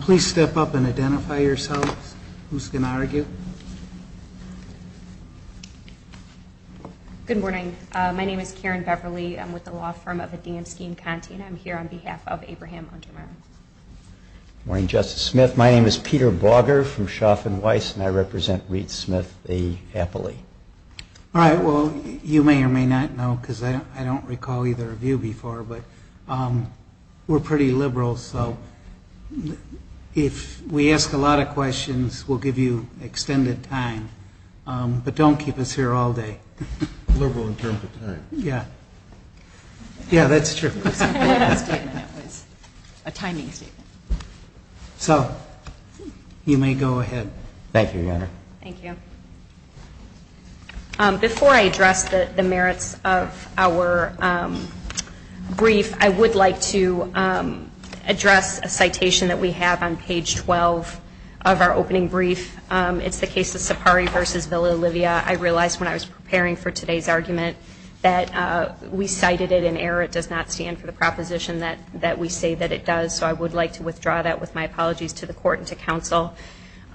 Please step up and identify yourselves. Who's going to argue? Good morning. My name is Karen Beverly. I'm with the law firm of Adamski and Conti, and I'm here on behalf of Abraham Untermeyer. Good morning, Justice Smith. My name is Peter Bogger from Schaff and Weiss, and I represent Reed Smith v. Happily. All right. Well, you may or may not know, because I don't recall either of you before, but we're pretty liberal, so if we ask a lot of questions, we'll give you extended time. But don't keep us here all day. Liberal in terms of time. Yeah. Yeah, that's true. It was a timing statement. Thank you, Your Honor. Thank you. Before I address the merits of our brief, I would like to address a citation that we have on page 12 of our opening brief. It's the case of Sapari v. Villa Olivia. I realized when I was preparing for today's argument that we cited it in error. It does not stand for the proposition that we say that it does, so I would like to withdraw that with my apologies to the Court and to Counsel.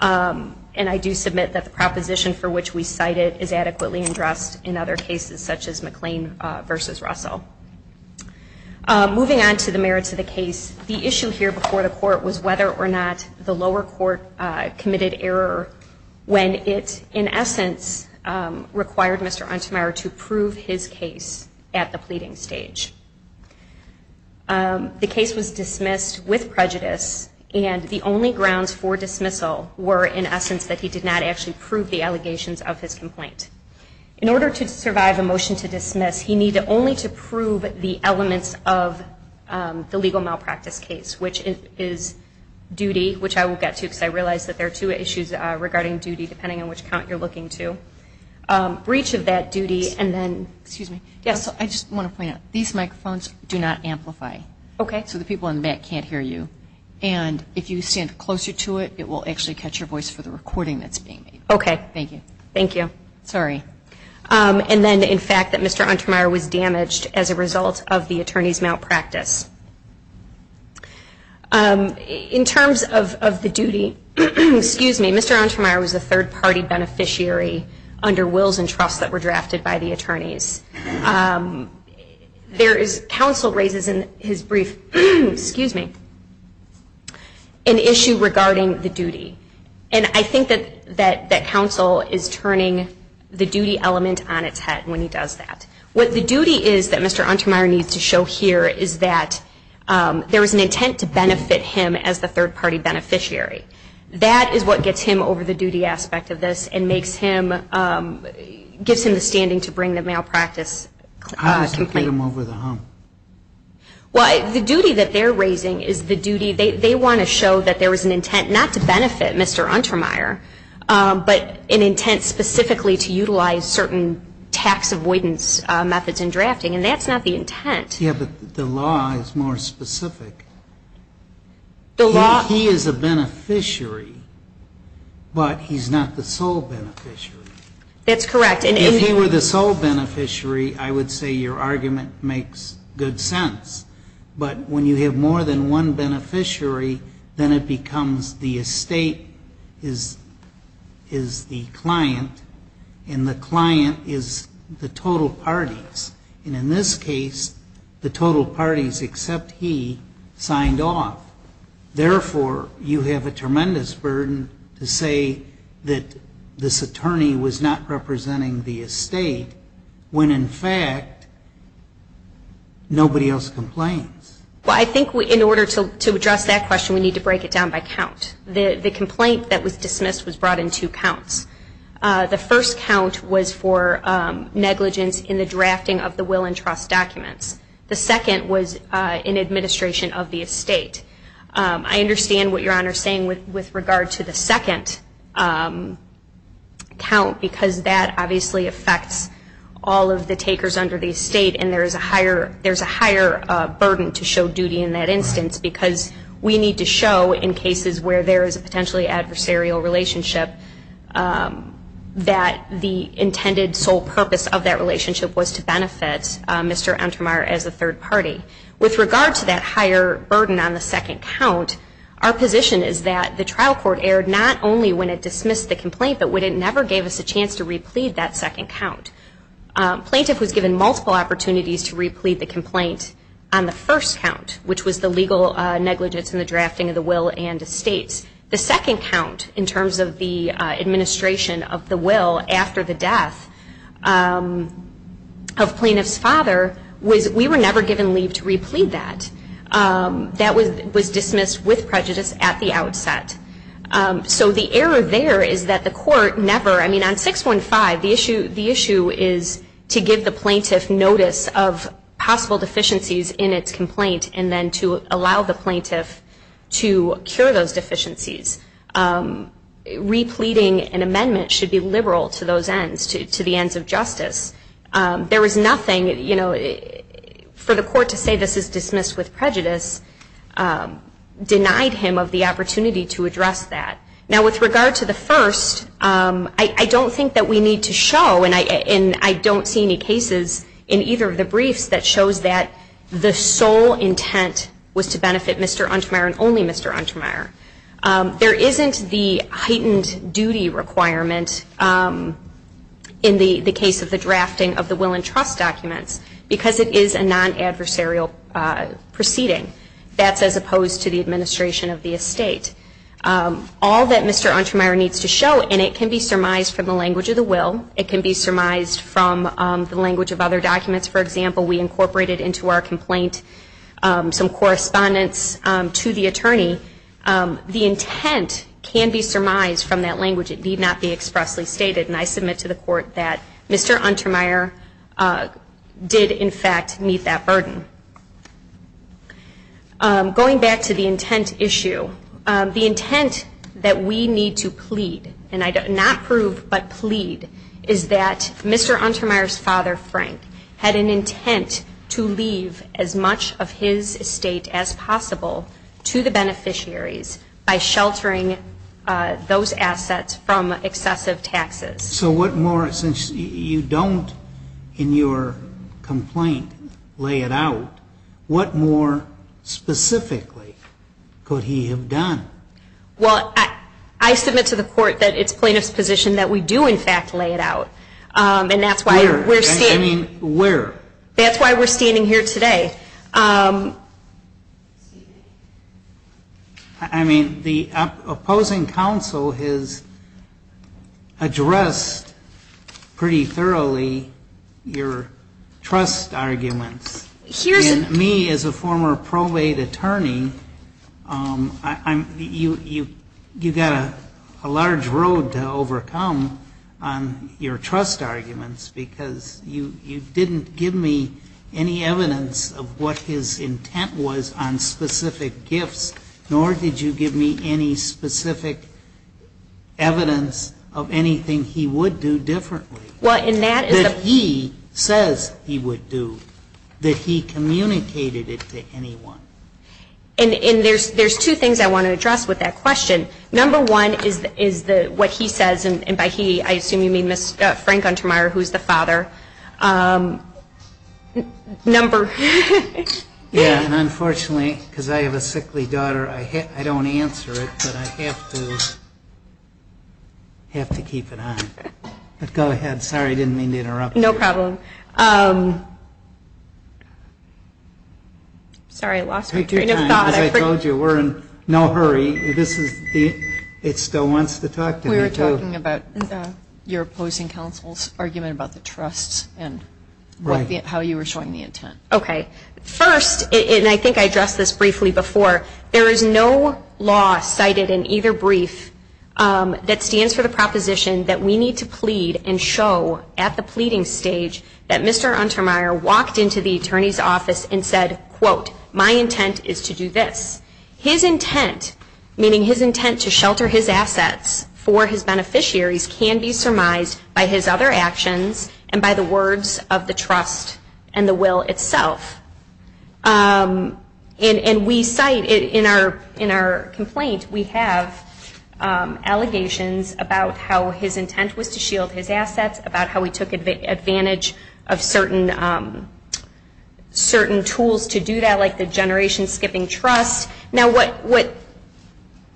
And I do submit that the proposition for which we cite it is adequately addressed in other cases, such as McLean v. Russell. Moving on to the merits of the case, the issue here before the Court was whether or not the lower court committed error when it, in essence, required Mr. Untemeyer to prove his case at the pleading stage. The case was dismissed with prejudice, and the only grounds for dismissal were, in essence, that he did not actually prove the allegations of his complaint. In order to survive a motion to dismiss, he needed only to prove the elements of the legal malpractice case, which is duty, which I will get to because I realize that there are two issues regarding duty, depending on which count you're looking to. Breach of that duty and then – Excuse me. Yes. I just want to point out, these microphones do not amplify. Okay. So the people in the back can't hear you. And if you stand closer to it, it will actually catch your voice for the recording that's being made. Okay. Thank you. Thank you. Sorry. And then, in fact, that Mr. Untemeyer was damaged as a result of the attorney's malpractice. In terms of the duty – Excuse me. Mr. Untemeyer was a third-party beneficiary under wills and trusts that were drafted by the attorneys. There is – counsel raises in his brief – Excuse me. An issue regarding the duty. And I think that counsel is turning the duty element on its head when he does that. What the duty is that Mr. Untemeyer needs to show here is that there is an intent to benefit him as the third-party beneficiary. That is what gets him over the duty aspect of this and makes him – gives him the standing to bring the malpractice complaint. How does he get him over the hump? Well, the duty that they're raising is the duty – they want to show that there is an intent not to benefit Mr. Untemeyer, but an intent specifically to utilize certain tax avoidance methods in drafting. And that's not the intent. Yeah, but the law is more specific. The law – He is a beneficiary, but he's not the sole beneficiary. That's correct. If he were the sole beneficiary, I would say your argument makes good sense. But when you have more than one beneficiary, then it becomes the estate is the client, and the client is the total parties. And in this case, the total parties except he signed off. Therefore, you have a tremendous burden to say that this attorney was not representing the estate when, in fact, nobody else complains. Well, I think in order to address that question, we need to break it down by count. The complaint that was dismissed was brought in two counts. The first count was for negligence in the drafting of the will and trust documents. The second was in administration of the estate. I understand what your Honor is saying with regard to the second count because that obviously affects all of the takers under the estate, and there's a higher burden to show duty in that instance because we need to show in cases where there is a potentially adversarial relationship that the intended sole purpose of that relationship was to benefit Mr. Entermeyer as a third party. With regard to that higher burden on the second count, our position is that the trial court erred not only when it dismissed the complaint, but when it never gave us a chance to replead that second count. Plaintiff was given multiple opportunities to replead the complaint on the first count, which was the legal negligence in the drafting of the will and estates. The second count, in terms of the administration of the will after the death of plaintiff's father, we were never given leave to replead that. That was dismissed with prejudice at the outset. So the error there is that the court never, I mean on 615, the issue is to give the plaintiff notice of possible deficiencies in its complaint and then to allow the plaintiff to cure those deficiencies. Repleading an amendment should be liberal to those ends, to the ends of justice. There was nothing, you know, for the court to say this is dismissed with prejudice denied him of the opportunity to address that. Now with regard to the first, I don't think that we need to show, and I don't see any cases in either of the briefs that shows that the sole intent was to benefit Mr. Untermyer and only Mr. Untermyer. There isn't the heightened duty requirement in the case of the drafting of the will and trust documents because it is a non-adversarial proceeding. That's as opposed to the administration of the estate. All that Mr. Untermyer needs to show, and it can be surmised from the language of the will, it can be surmised from the language of other documents. For example, we incorporated into our complaint some correspondence to the attorney. The intent can be surmised from that language. It need not be expressly stated, and I submit to the court that Mr. Untermyer did in fact meet that burden. Going back to the intent issue, the intent that we need to plead, and not prove but plead, is that Mr. Untermyer's father, Frank, had an intent to leave as much of his estate as possible to the beneficiaries by sheltering those assets from excessive taxes. So what more, since you don't in your complaint lay it out, what more specifically could he have done? Well, I submit to the court that it's plaintiff's position that we do in fact lay it out. Where? That's why we're standing here today. I mean, the opposing counsel has addressed pretty thoroughly your trust arguments. And me, as a former probate attorney, you've got a large road to overcome on your trust arguments because you didn't give me any evidence of what his intent was on specific gifts, nor did you give me any specific evidence of anything he would do differently. Well, and that is the... That he says he would do, that he communicated it to anyone. And there's two things I want to address with that question. Number one is what he says, and by he I assume you mean Frank Untermyer, who's the father. Number... Yeah, and unfortunately, because I have a sickly daughter, I don't answer it, but I have to keep it on. But go ahead. Sorry, I didn't mean to interrupt you. Sorry, I lost my train of thought. As I told you, we're in no hurry. It still wants to talk to me, too. We were talking about your opposing counsel's argument about the trust and how you were showing the intent. Okay. First, and I think I addressed this briefly before, there is no law cited in either brief that stands for the proposition that we need to plead and show at the pleading stage that Mr. Untermyer walked into the attorney's office and said, quote, my intent is to do this. His intent, meaning his intent to shelter his assets for his beneficiaries, can be surmised by his other actions and by the words of the trust and the will itself. And we cite in our complaint, we have allegations about how his intent was to shield his assets, about how he took advantage of certain tools to do that, like the generation-skipping trust. Now, what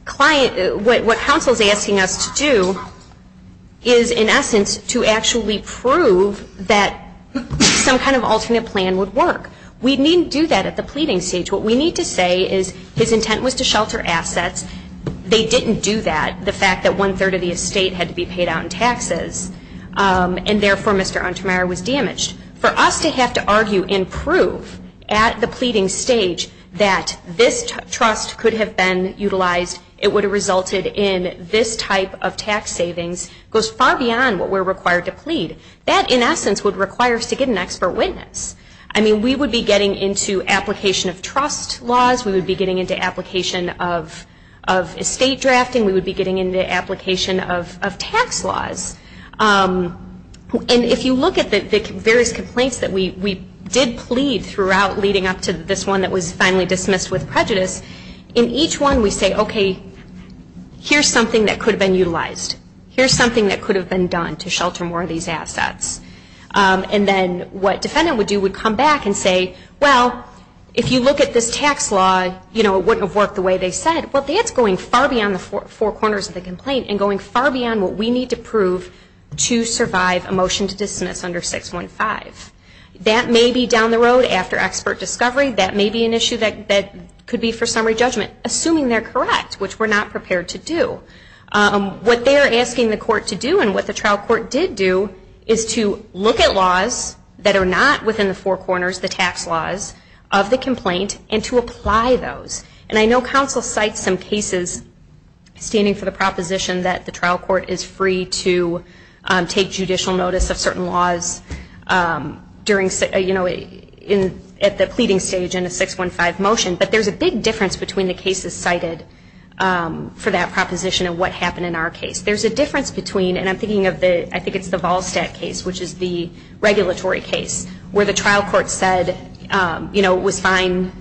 counsel is asking us to do is, in essence, to actually prove that some kind of alternate plan would work. We needn't do that at the pleading stage. What we need to say is his intent was to shelter assets. They didn't do that, the fact that one-third of the estate had to be paid out in taxes, and therefore Mr. Untermyer was damaged. For us to have to argue and prove at the pleading stage that this trust could have been utilized, it would have resulted in this type of tax savings, goes far beyond what we're required to plead. That, in essence, would require us to get an expert witness. I mean, we would be getting into application of trust laws. We would be getting into application of estate drafting. We would be getting into application of tax laws. And if you look at the various complaints that we did plead throughout, leading up to this one that was finally dismissed with prejudice, in each one we say, okay, here's something that could have been utilized. Here's something that could have been done to shelter more of these assets. And then what defendant would do would come back and say, well, if you look at this tax law, you know, it wouldn't have worked the way they said. Well, that's going far beyond the four corners of the complaint and going far beyond what we need to prove to survive a motion to dismiss under 615. That may be down the road after expert discovery. That may be an issue that could be for summary judgment, assuming they're correct, which we're not prepared to do. What they're asking the court to do and what the trial court did do is to look at laws that are not within the four corners, the tax laws of the complaint, and to apply those. And I know counsel cites some cases standing for the proposition that the trial court is free to take judicial notice of certain laws during, you know, at the pleading stage in a 615 motion. But there's a big difference between the cases cited for that proposition and what happened in our case. There's a difference between, and I'm thinking of the, I think it's the Volstat case, which is the regulatory case where the trial court said, you know, it was fine,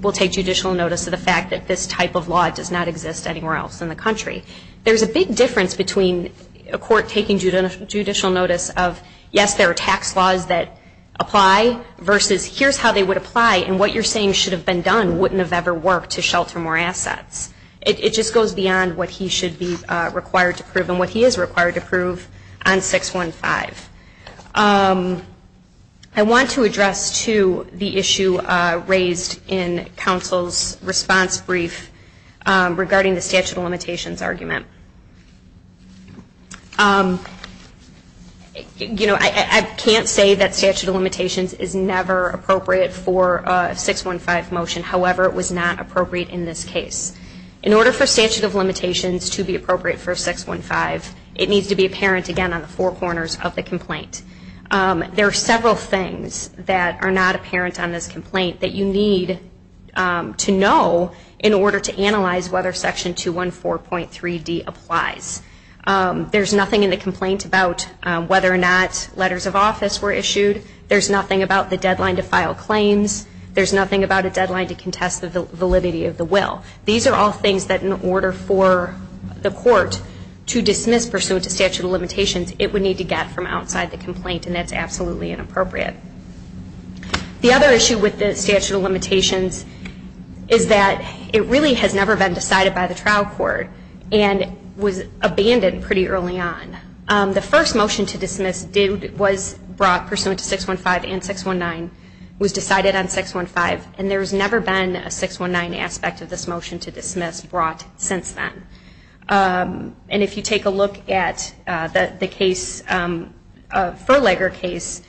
we'll take judicial notice of the fact that this type of law does not exist anywhere else in the country. There's a big difference between a court taking judicial notice of, yes, there are tax laws that apply versus here's how they would apply and what you're saying should have been done wouldn't have ever worked to shelter more assets. It just goes beyond what he should be required to prove and what he is required to prove on 615. I want to address, too, the issue raised in counsel's response brief regarding the statute of limitations argument. You know, I can't say that statute of limitations is never appropriate for a 615 motion. However, it was not appropriate in this case. In order for statute of limitations to be appropriate for 615, it needs to be apparent, again, on the four corners of the complaint. There are several things that are not apparent on this complaint that you need to know in order to analyze whether section 214.3d applies. There's nothing in the complaint about whether or not letters of office were issued. There's nothing about the deadline to file claims. There's nothing about a deadline to contest the validity of the will. These are all things that in order for the court to dismiss pursuant to statute of limitations, it would need to get from outside the complaint, and that's absolutely inappropriate. The other issue with the statute of limitations is that it really has never been decided by the trial court and was abandoned pretty early on. The first motion to dismiss was brought pursuant to 615 and 619, was decided on 615, and there has never been a 619 aspect of this motion to dismiss brought since then. And if you take a look at the case, the Furlager case,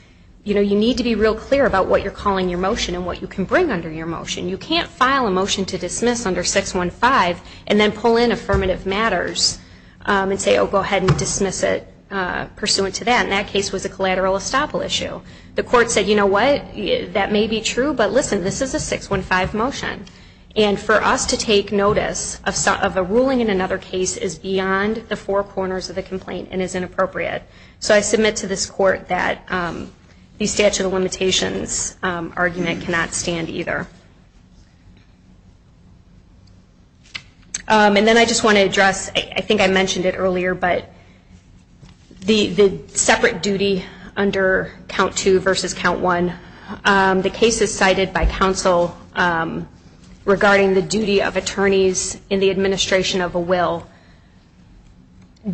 you need to be real clear about what you're calling your motion and what you can bring under your motion. You can't file a motion to dismiss under 615 and then pull in affirmative matters and say, oh, go ahead and dismiss it pursuant to that, and that case was a collateral estoppel issue. The court said, you know what, that may be true, but listen, this is a 615 motion, and for us to take notice of a ruling in another case is beyond the four corners of the complaint and is inappropriate. So I submit to this court that the statute of limitations argument cannot stand either. And then I just want to address, I think I mentioned it earlier, but the separate duty under count two versus count one, the cases cited by counsel regarding the duty of attorneys in the administration of a will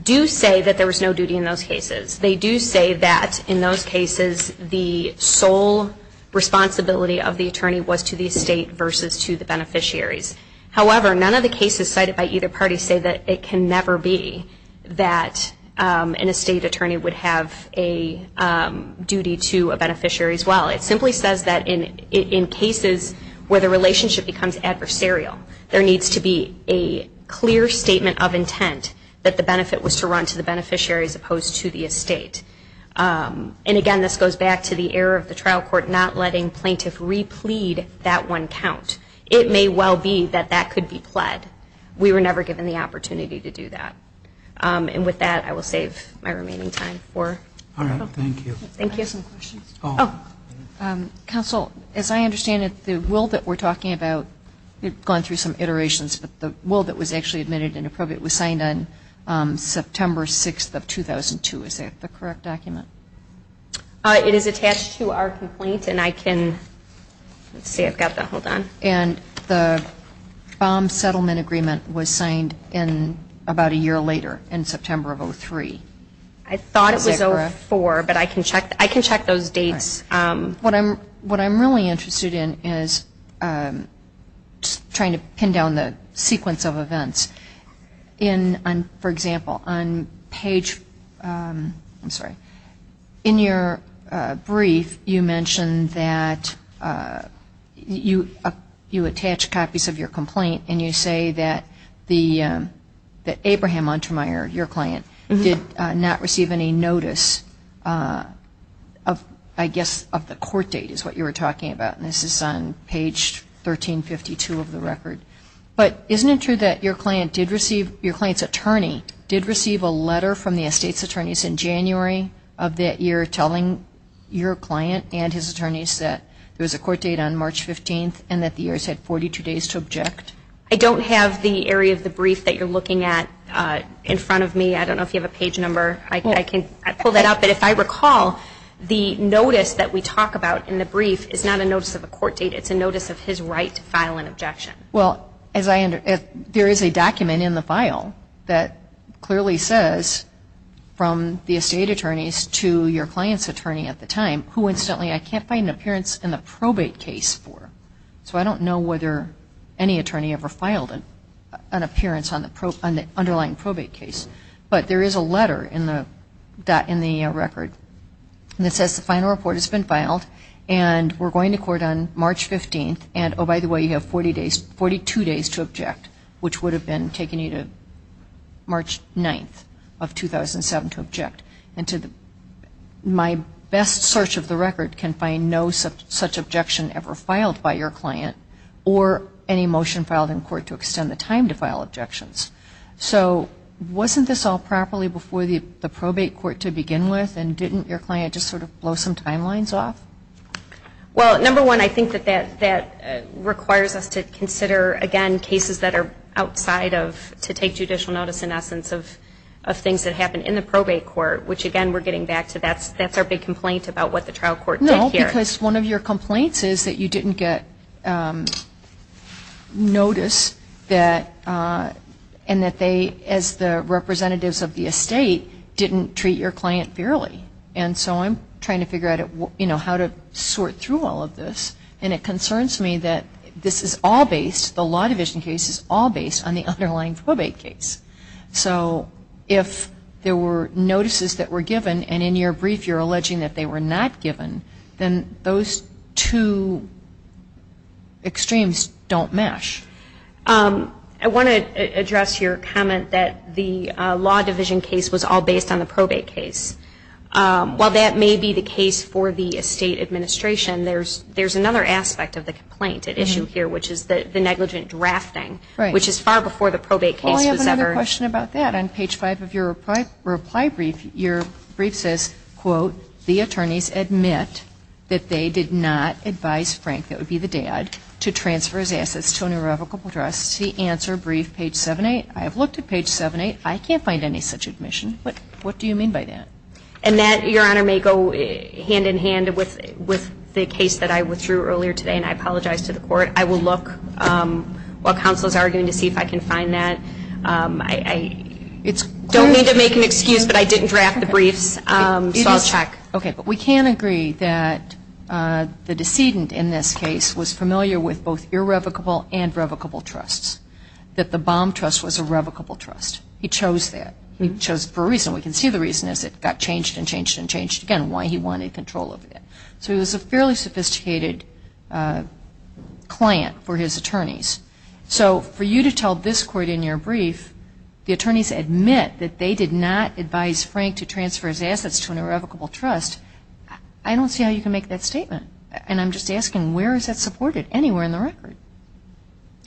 do say that there was no duty in those cases. They do say that in those cases the sole responsibility of the attorney was to the estate versus to the beneficiaries. However, none of the cases cited by either party say that it can never be that an estate attorney would have a duty to a beneficiary's will. It simply says that in cases where the relationship becomes adversarial, there needs to be a clear statement of intent that the benefit was to run to the beneficiary as opposed to the estate. And again, this goes back to the error of the trial court not letting plaintiff replead that one count. It may well be that that could be pled. We were never given the opportunity to do that. And with that, I will save my remaining time. All right. Thank you. Thank you. Some questions? Oh, counsel, as I understand it, the will that we're talking about, you've gone through some iterations, but the will that was actually admitted and appropriate was signed on September 6th of 2002. Is that the correct document? It is attached to our complaint, and I can, let's see, I've got that. Hold on. And the bomb settlement agreement was signed about a year later in September of 2003. I thought it was 04, but I can check those dates. What I'm really interested in is trying to pin down the sequence of events. For example, on page, I'm sorry. In your brief, you mentioned that you attach copies of your complaint and you say that Abraham Untermyer, your client, did not receive any notice of, I guess, of the court date is what you were talking about, and this is on page 1352 of the record. But isn't it true that your client's attorney did receive a letter from the estate's attorneys in January of that year telling your client and his attorneys that there was a court date on March 15th and that the heirs had 42 days to object? I don't have the area of the brief that you're looking at in front of me. I don't know if you have a page number. I can pull that up. But if I recall, the notice that we talk about in the brief is not a notice of a court date. It's a notice of his right to file an objection. Well, there is a document in the file that clearly says from the estate attorneys to your client's attorney at the time who, incidentally, I can't find an appearance in the probate case for. So I don't know whether any attorney ever filed an appearance on the underlying probate case. But there is a letter in the record that says the final report has been filed and we're going to court on March 15th and, oh, by the way, you have 42 days to object, which would have taken you to March 9th of 2007 to object. And my best search of the record can find no such objection ever filed by your client or any motion filed in court to extend the time to file objections. So wasn't this all properly before the probate court to begin with and didn't your client just sort of blow some timelines off? Well, number one, I think that that requires us to consider, again, cases that are outside of to take judicial notice in essence of things that happen in the probate court, which, again, we're getting back to that's our big complaint about what the trial court did here. No, because one of your complaints is that you didn't get notice that and that they, as the representatives of the estate, didn't treat your client fairly. And so I'm trying to figure out how to sort through all of this. And it concerns me that this is all based, the law division case is all based on the underlying probate case. So if there were notices that were given and in your brief you're alleging that they were not given, then those two extremes don't mesh. I want to address your comment that the law division case was all based on the probate case. While that may be the case for the estate administration, there's another aspect of the complaint at issue here, which is the negligent drafting, which is far before the probate case was ever. Well, I have another question about that. On page five of your reply brief, your brief says, quote, the attorneys admit that they did not advise Frank, that would be the dad, to transfer his assets to an irrevocable trust. The answer brief, page 7-8. I have looked at page 7-8. I can't find any such admission. What do you mean by that? And that, Your Honor, may go hand in hand with the case that I withdrew earlier today, and I apologize to the court. I will look while counsel is arguing to see if I can find that. I don't mean to make an excuse, but I didn't draft the briefs. So I'll check. Okay. But we can agree that the decedent in this case was familiar with both irrevocable and revocable trusts, that the Baum Trust was a revocable trust. He chose that. He chose for a reason. We can see the reason is it got changed and changed and changed again, why he wanted control of it. So he was a fairly sophisticated client for his attorneys. So for you to tell this court in your brief, the attorneys admit that they did not advise Frank to transfer his assets to an irrevocable trust, I don't see how you can make that statement. And I'm just asking, where is that supported? Anywhere in the record.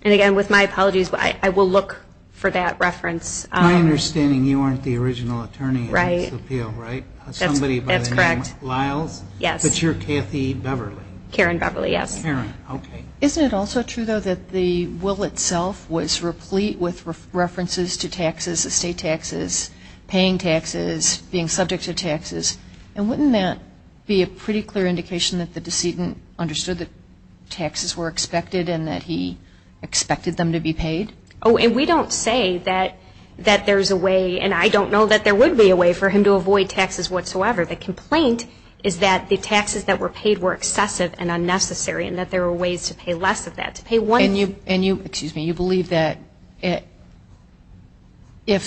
And, again, with my apologies, I will look for that reference. My understanding, you aren't the original attorney in this appeal, right? Somebody by the name of Lyles? That's correct, yes. But you're Kathy Beverly? Karen Beverly, yes. Karen, okay. Isn't it also true, though, that the will itself was replete with references to taxes, estate taxes, paying taxes, being subject to taxes? And wouldn't that be a pretty clear indication that the decedent understood that taxes were expected and that he expected them to be paid? Oh, and we don't say that there's a way, and I don't know that there would be a way for him to avoid taxes whatsoever. The complaint is that the taxes that were paid were excessive and unnecessary and that there were ways to pay less of that, to pay one. And you believe that if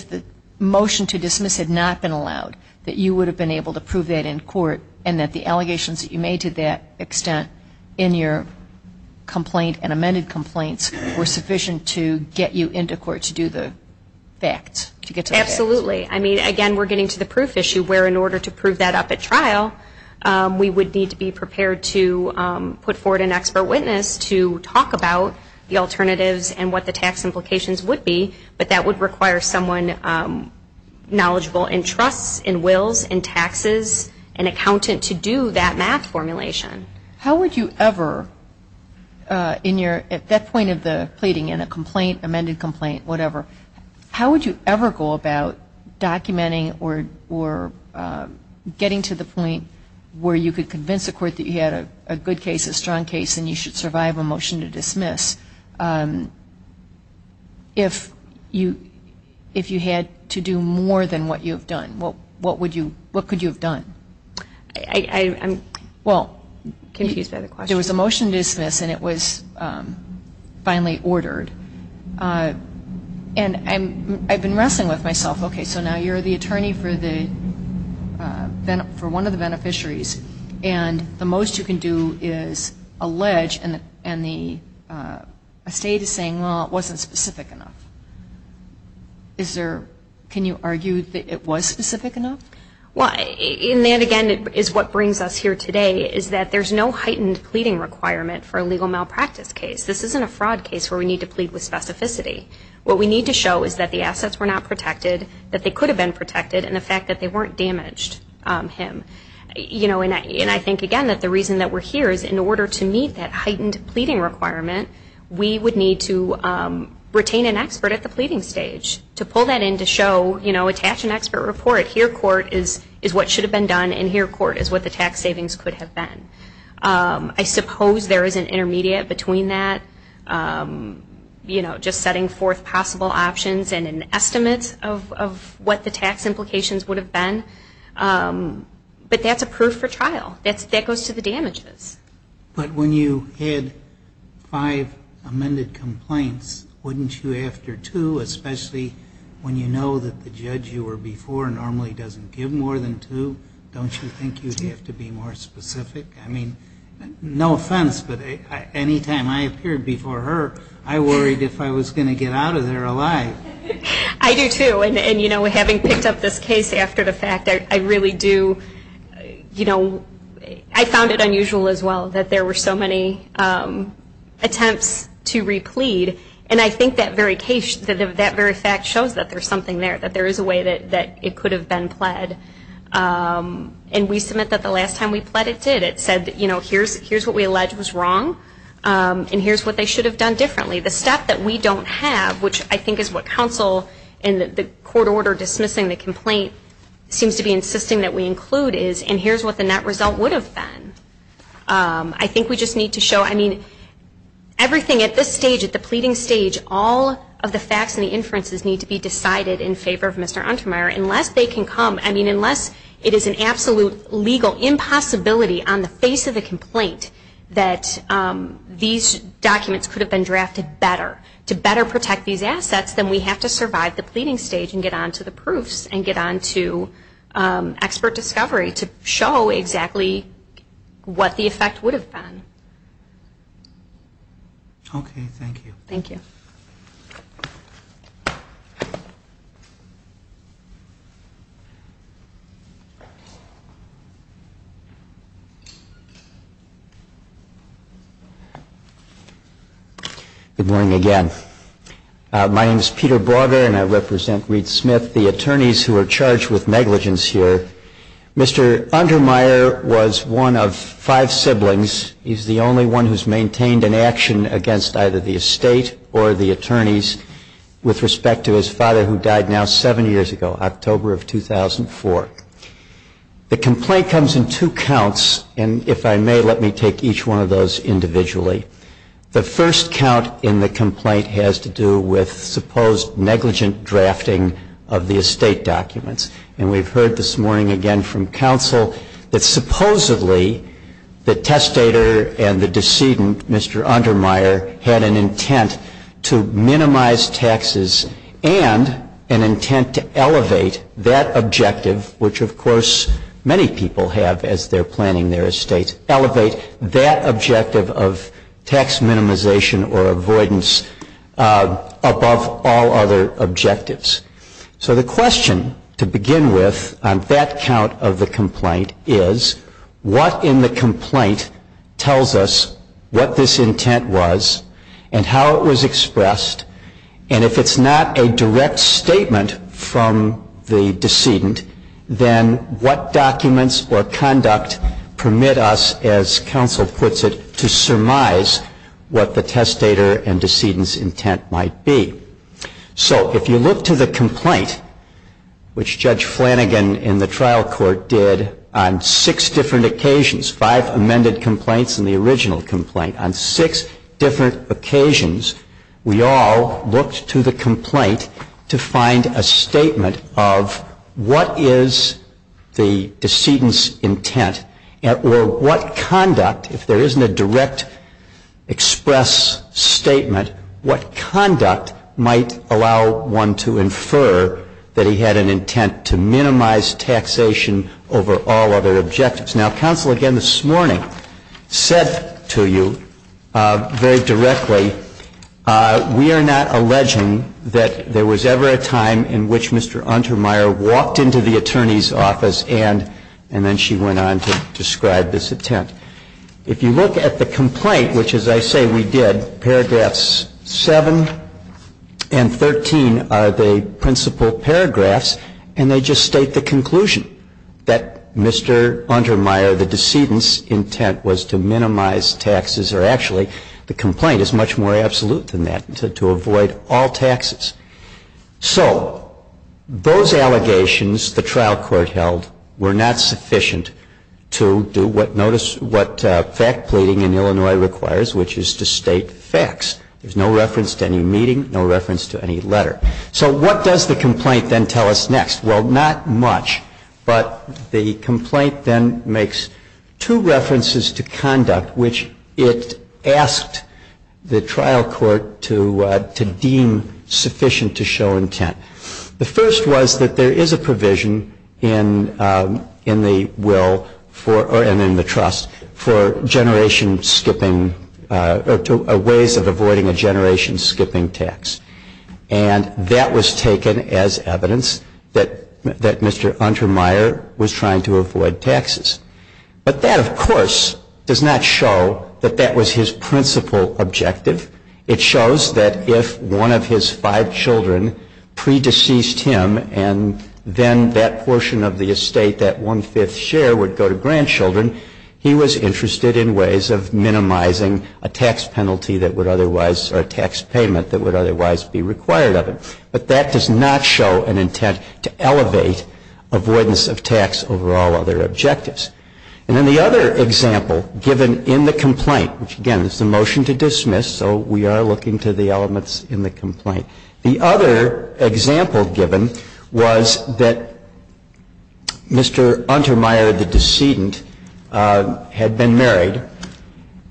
the motion to dismiss had not been allowed, that you would have been able to prove that in court and that the allegations that you made to that extent in your complaint and amended complaints were sufficient to get you into court to do the facts, to get to the facts? Absolutely. I mean, again, we're getting to the proof issue, where in order to prove that up at trial, we would need to be prepared to put forward an expert witness to talk about the alternatives and what the tax implications would be, but that would require someone knowledgeable in trusts, in wills, in taxes, an accountant to do that math formulation. How would you ever, at that point of the pleading, in a complaint, amended complaint, whatever, how would you ever go about documenting or getting to the point where you could convince the court that you had a good case, a strong case, and you should survive a motion to dismiss if you had to do more than what you have done? What could you have done? I'm confused by the question. There was a motion to dismiss, and it was finally ordered. And I've been wrestling with myself. Okay, so now you're the attorney for one of the beneficiaries, and the most you can do is allege, and the estate is saying, well, it wasn't specific enough. Can you argue that it was specific enough? Well, and that, again, is what brings us here today, is that there's no heightened pleading requirement for a legal malpractice case. This isn't a fraud case where we need to plead with specificity. What we need to show is that the assets were not protected, that they could have been protected, and the fact that they weren't damaged him. And I think, again, that the reason that we're here is in order to meet that heightened pleading requirement, we would need to retain an expert at the pleading stage to pull that in to show, attach an expert report. Here, court, is what should have been done, and here, court, is what the tax savings could have been. I suppose there is an intermediate between that, you know, just setting forth possible options and an estimate of what the tax implications would have been. But that's a proof for trial. That goes to the damages. But when you had five amended complaints, wouldn't you, after two, especially when you know that the judge you were before normally doesn't give more than two, don't you think you'd have to be more specific? I mean, no offense, but any time I appeared before her, I worried if I was going to get out of there alive. I do, too. And, you know, having picked up this case after the fact, I really do, you know, I found it unusual as well that there were so many attempts to replead. And I think that very fact shows that there's something there, that there is a way that it could have been pled. And we submit that the last time we pled it did. It said, you know, here's what we allege was wrong, and here's what they should have done differently. The step that we don't have, which I think is what counsel in the court order dismissing the complaint seems to be insisting that we include, is, and here's what the net result would have been. I think we just need to show, I mean, everything at this stage, at the pleading stage, all of the facts and the inferences need to be decided in favor of Mr. Untermyer unless they can come, I mean, unless it is an absolute legal impossibility on the face of the complaint that these documents could have been drafted better. To better protect these assets, then we have to survive the pleading stage and get on to the proofs and get on to expert discovery to show exactly what the effect would have been. Okay, thank you. Thank you. Good morning again. My name is Peter Brauger, and I represent Reed Smith, the attorneys who are charged with negligence here. Mr. Untermyer was one of five siblings. He's the only one who's maintained an action against either the estate or the attorneys with respect to his father who died now seven years ago, October of 2004. The complaint comes in two counts, and if I may, let me take each one of those individually. The first count in the complaint has to do with supposed negligent drafting of the estate documents. And we've heard this morning again from counsel that supposedly the testator and the decedent, Mr. Untermyer, had an intent to minimize taxes and an intent to elevate that objective, which, of course, many people have as they're planning their estate, elevate that objective of tax minimization or avoidance above all other objectives. So the question to begin with on that count of the complaint is, what in the complaint tells us what this intent was and how it was expressed? And if it's not a direct statement from the decedent, then what documents or conduct permit us, as counsel puts it, to surmise what the testator and decedent's intent might be? So if you look to the complaint, which Judge Flanagan in the trial court did on six different occasions, five amended complaints and the original complaint, on six different occasions, we all looked to the complaint to find a statement of what is the decedent's intent or what conduct, if there isn't a direct express statement, what conduct might allow one to infer that he had an intent to minimize taxation over all other objectives. Now, counsel again this morning said to you very directly, we are not alleging that there was ever a time in which Mr. Untermyer walked into the attorney's office and then she went on to describe this intent. If you look at the complaint, which as I say we did, paragraphs 7 and 13 are the principal paragraphs, and they just state the conclusion that Mr. Untermyer, the decedent's intent was to minimize taxes, or actually the complaint is much more absolute than that, to avoid all taxes. So those allegations the trial court held were not sufficient to do what, notice what fact pleading in Illinois requires, which is to state facts. There's no reference to any meeting, no reference to any letter. So what does the complaint then tell us next? Well, not much, but the complaint then makes two references to conduct which it asked the trial court to deem sufficient to show intent. The first was that there is a provision in the will and in the trust for ways of avoiding a generation skipping tax, and that was taken as evidence that Mr. Untermyer was trying to avoid taxes. But that, of course, does not show that that was his principal objective. It shows that if one of his five children pre-deceased him and then that portion of the estate, that one-fifth share, would go to grandchildren, he was interested in ways of minimizing a tax penalty that would otherwise, or a tax payment that would otherwise be required of him. But that does not show an intent to elevate avoidance of tax over all other objectives. And then the other example given in the complaint, which, again, is the motion to dismiss, so we are looking to the elements in the complaint. The other example given was that Mr. Untermyer, the decedent, had been married,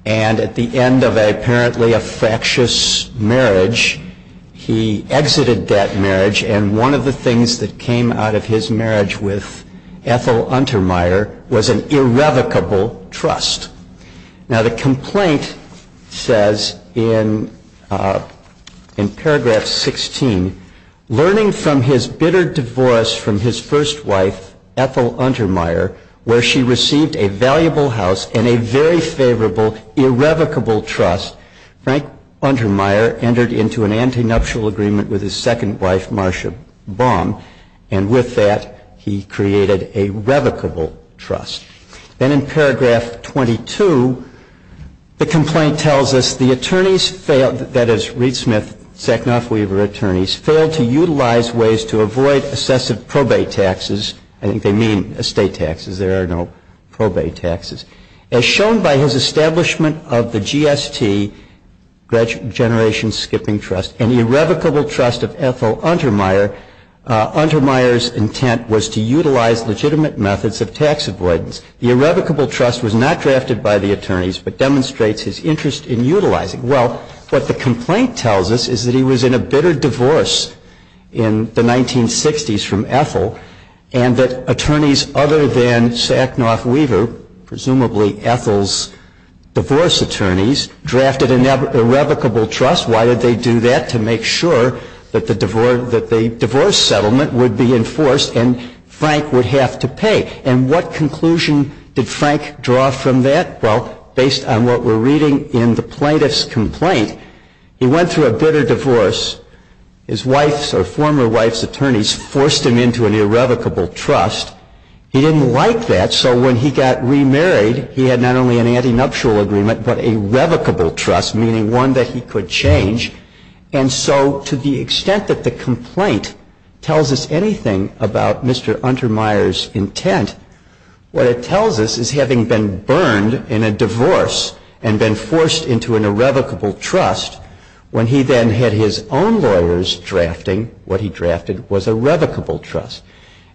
and at the end of apparently a fractious marriage, he exited that marriage, and one of the things that came out of his marriage with Ethel Untermyer was an irrevocable trust. Now, the complaint says in paragraph 16, learning from his bitter divorce from his first wife, Ethel Untermyer, where she received a valuable house and a very favorable, irrevocable trust, Frank Untermyer entered into an antinuptial agreement with his second wife, Marcia Baum, and with that he created a revocable trust. Then in paragraph 22, the complaint tells us, the attorneys failed, that is, Reed Smith, Sacknoff, Weaver attorneys, failed to utilize ways to avoid excessive probate taxes. I think they mean estate taxes. There are no probate taxes. As shown by his establishment of the GST, Generation Skipping Trust, an irrevocable trust of Ethel Untermyer, Untermyer's intent was to utilize legitimate methods of tax avoidance. The irrevocable trust was not drafted by the attorneys, but demonstrates his interest in utilizing. Well, what the complaint tells us is that he was in a bitter divorce in the 1960s from Ethel, and that attorneys other than Sacknoff, Weaver, presumably Ethel's divorce attorneys, drafted an irrevocable trust. Why did they do that? To make sure that the divorce settlement would be enforced and Frank would have to pay. And what conclusion did Frank draw from that? Well, based on what we're reading in the plaintiff's complaint, he went through a bitter divorce. His wife's or former wife's attorneys forced him into an irrevocable trust. He didn't like that, so when he got remarried, he had not only an antinuptial agreement, but a revocable trust, meaning one that he could change. And so to the extent that the complaint tells us anything about Mr. Untermyer's intent, what it tells us is having been burned in a divorce and been forced into an irrevocable trust, when he then had his own lawyers drafting what he drafted was a revocable trust.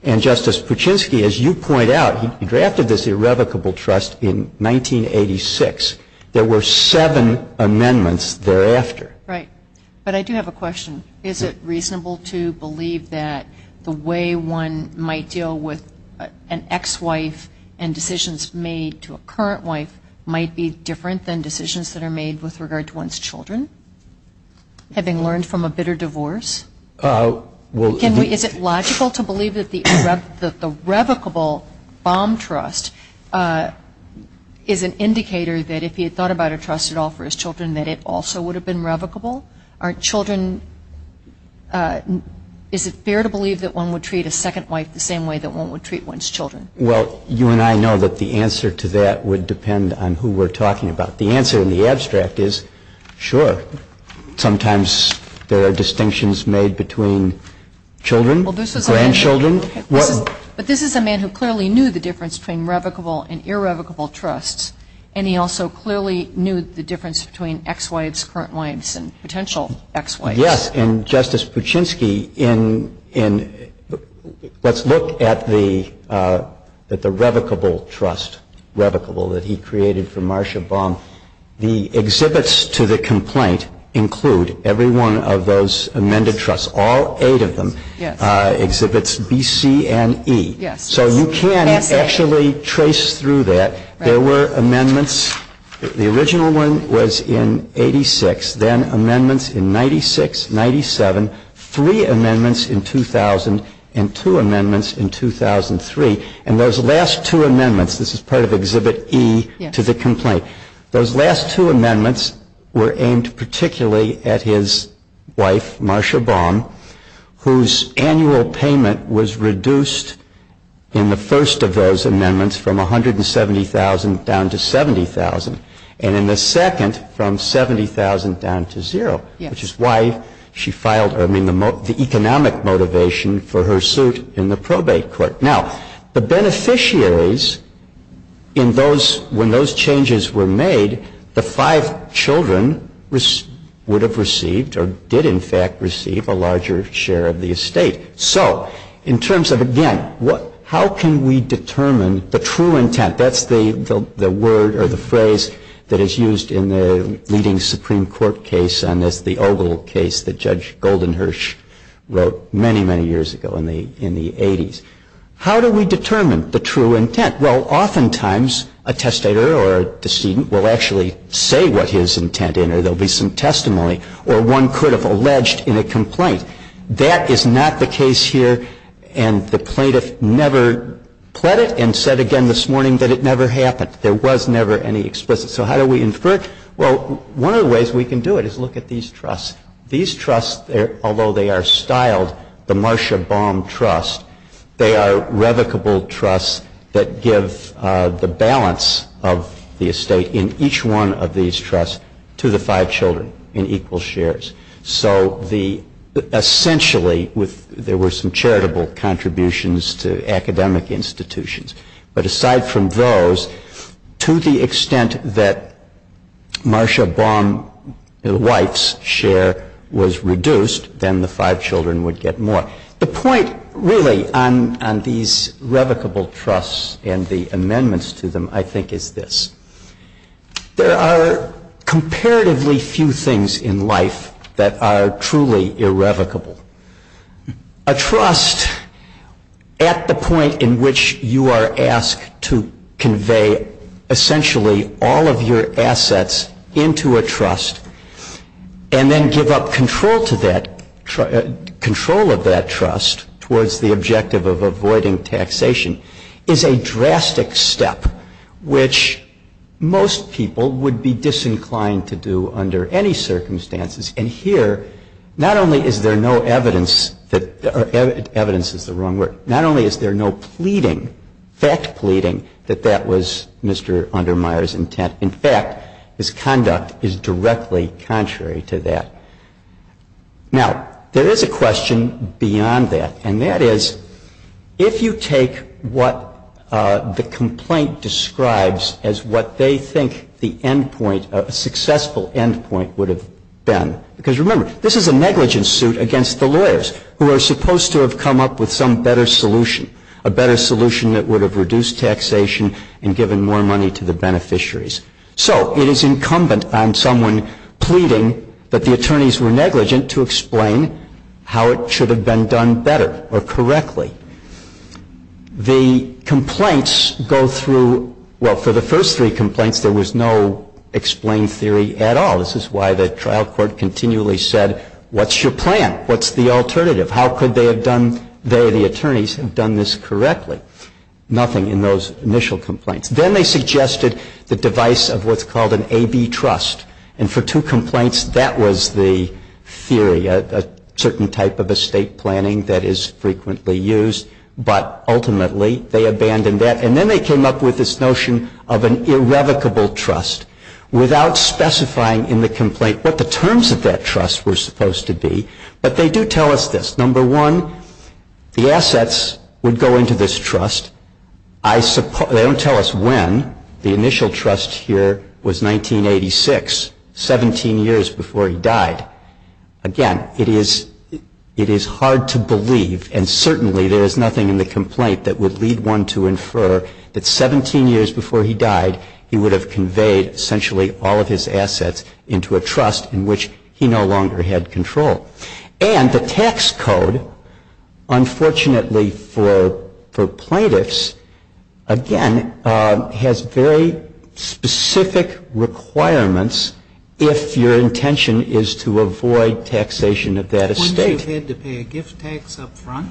And Justice Puchinsky, as you point out, he drafted this irrevocable trust in 1986. There were seven amendments thereafter. Right. But I do have a question. Is it reasonable to believe that the way one might deal with an ex-wife and decisions made to a current wife might be different than decisions that are made with regard to one's children, having learned from a bitter divorce? Is it logical to believe that the revocable bomb trust is an indicator that if he had thought about a trusted offer for his children that it also would have been revocable? Aren't children ñ is it fair to believe that one would treat a second wife the same way that one would treat one's children? Well, you and I know that the answer to that would depend on who we're talking about. The answer in the abstract is sure. Sometimes there are distinctions made between children, grandchildren. But this is a man who clearly knew the difference between revocable and irrevocable trusts, and he also clearly knew the difference between ex-wives, current wives and potential ex-wives. Yes. And, Justice Puchinsky, in ñ let's look at the revocable trust, revocable, that he created for Marcia Baum. The exhibits to the complaint include every one of those amended trusts, all eight of them. Yes. Exhibits B, C and E. Yes. So you can actually trace through that. There were amendments. The original one was in 86, then amendments in 96, 97, three amendments in 2000 and two amendments in 2003. And those last two amendments ñ this is part of Exhibit E to the complaint ñ those last two amendments were aimed particularly at his wife, Marcia Baum, whose annual payment was reduced in the first of those amendments from $170,000 down to $70,000, and in the second from $70,000 down to zero. Yes. Which is why she filed her ñ I mean, the economic motivation for her suit in the probate court. Now, the beneficiaries in those ñ when those changes were made, the five children would have received, or did in fact receive, a larger share of the estate. So in terms of, again, how can we determine the true intent? That's the word or the phrase that is used in the leading Supreme Court case on this, the Ogle case that Judge Goldenhirsch wrote many, many years ago in the 80s. How do we determine the true intent? Well, oftentimes a testator or a decedent will actually say what his intent is, or there will be some testimony, or one could have alleged in a complaint. That is not the case here. And the plaintiff never pled it and said again this morning that it never happened. There was never any explicit. So how do we infer it? Well, one of the ways we can do it is look at these trusts. These trusts, although they are styled the Marcia Baum Trust, they are revocable trusts that give the balance of the estate in each one of these trusts to the five children in equal shares. So essentially, there were some charitable contributions to academic institutions. But aside from those, to the extent that Marcia Baum, the wife's share, was reduced, then the five children would get more. The point really on these revocable trusts and the amendments to them, I think, is this. There are comparatively few things in life that are truly irrevocable. A trust at the point in which you are asked to convey essentially all of your assets into a trust and then give up control of that trust towards the objective of avoiding taxation is a drastic step, which most people would be disinclined to do under any circumstances. And here, not only is there no evidence that — evidence is the wrong word. Not only is there no pleading, fact pleading, that that was Mr. Undermire's intent. In fact, his conduct is directly contrary to that. Now, there is a question beyond that. And that is, if you take what the complaint describes as what they think the end point, a successful end point would have been — because remember, this is a negligence suit against the lawyers who are supposed to have come up with some better solution, a better solution that would have reduced taxation and given more money to the beneficiaries. So it is incumbent on someone pleading that the attorneys were negligent to explain how it should have been done better or correctly. The complaints go through — well, for the first three complaints, there was no explained theory at all. This is why the trial court continually said, what's your plan? What's the alternative? How could they have done — they, the attorneys, have done this correctly? Nothing in those initial complaints. Then they suggested the device of what's called an AB trust. And for two complaints, that was the theory, a certain type of estate planning that is frequently used. But ultimately, they abandoned that. And then they came up with this notion of an irrevocable trust, without specifying in the complaint what the terms of that trust were supposed to be. But they do tell us this. Number one, the assets would go into this trust. They don't tell us when. The initial trust here was 1986, 17 years before he died. Again, it is hard to believe, and certainly there is nothing in the complaint that would lead one to infer that 17 years before he died, he would have conveyed essentially all of his assets into a trust in which he no longer had control. And the tax code, unfortunately for plaintiffs, again, has very specific requirements if your intention is to avoid taxation of that estate. Wouldn't you have had to pay a gift tax up front?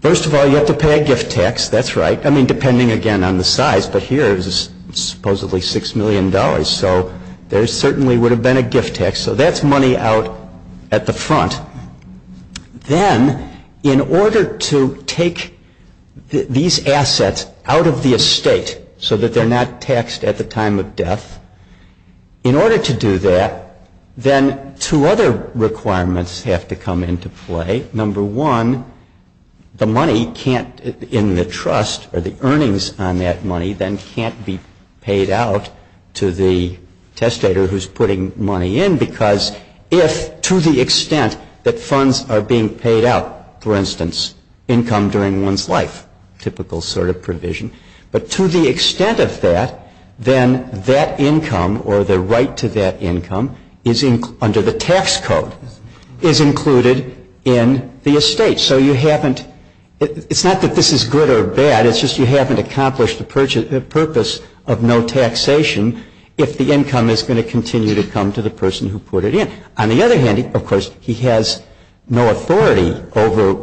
First of all, you have to pay a gift tax. That's right. I mean, depending, again, on the size. But here it was supposedly $6 million. So there certainly would have been a gift tax. So that's money out at the front. Then, in order to take these assets out of the estate so that they're not taxed at the time of death, in order to do that, then two other requirements have to come into play. Number one, the money can't, in the trust, or the earnings on that money then can't be paid out to the testator who's putting money in because if, to the extent that funds are being paid out, for instance, income during one's life, typical sort of provision, but to the extent of that, then that income or the right to that income under the tax code is included in the estate. So you haven't – it's not that this is good or bad. It's just you haven't accomplished the purpose of no taxation if the income is going to continue to come to the person who put it in. On the other hand, of course, he has no authority over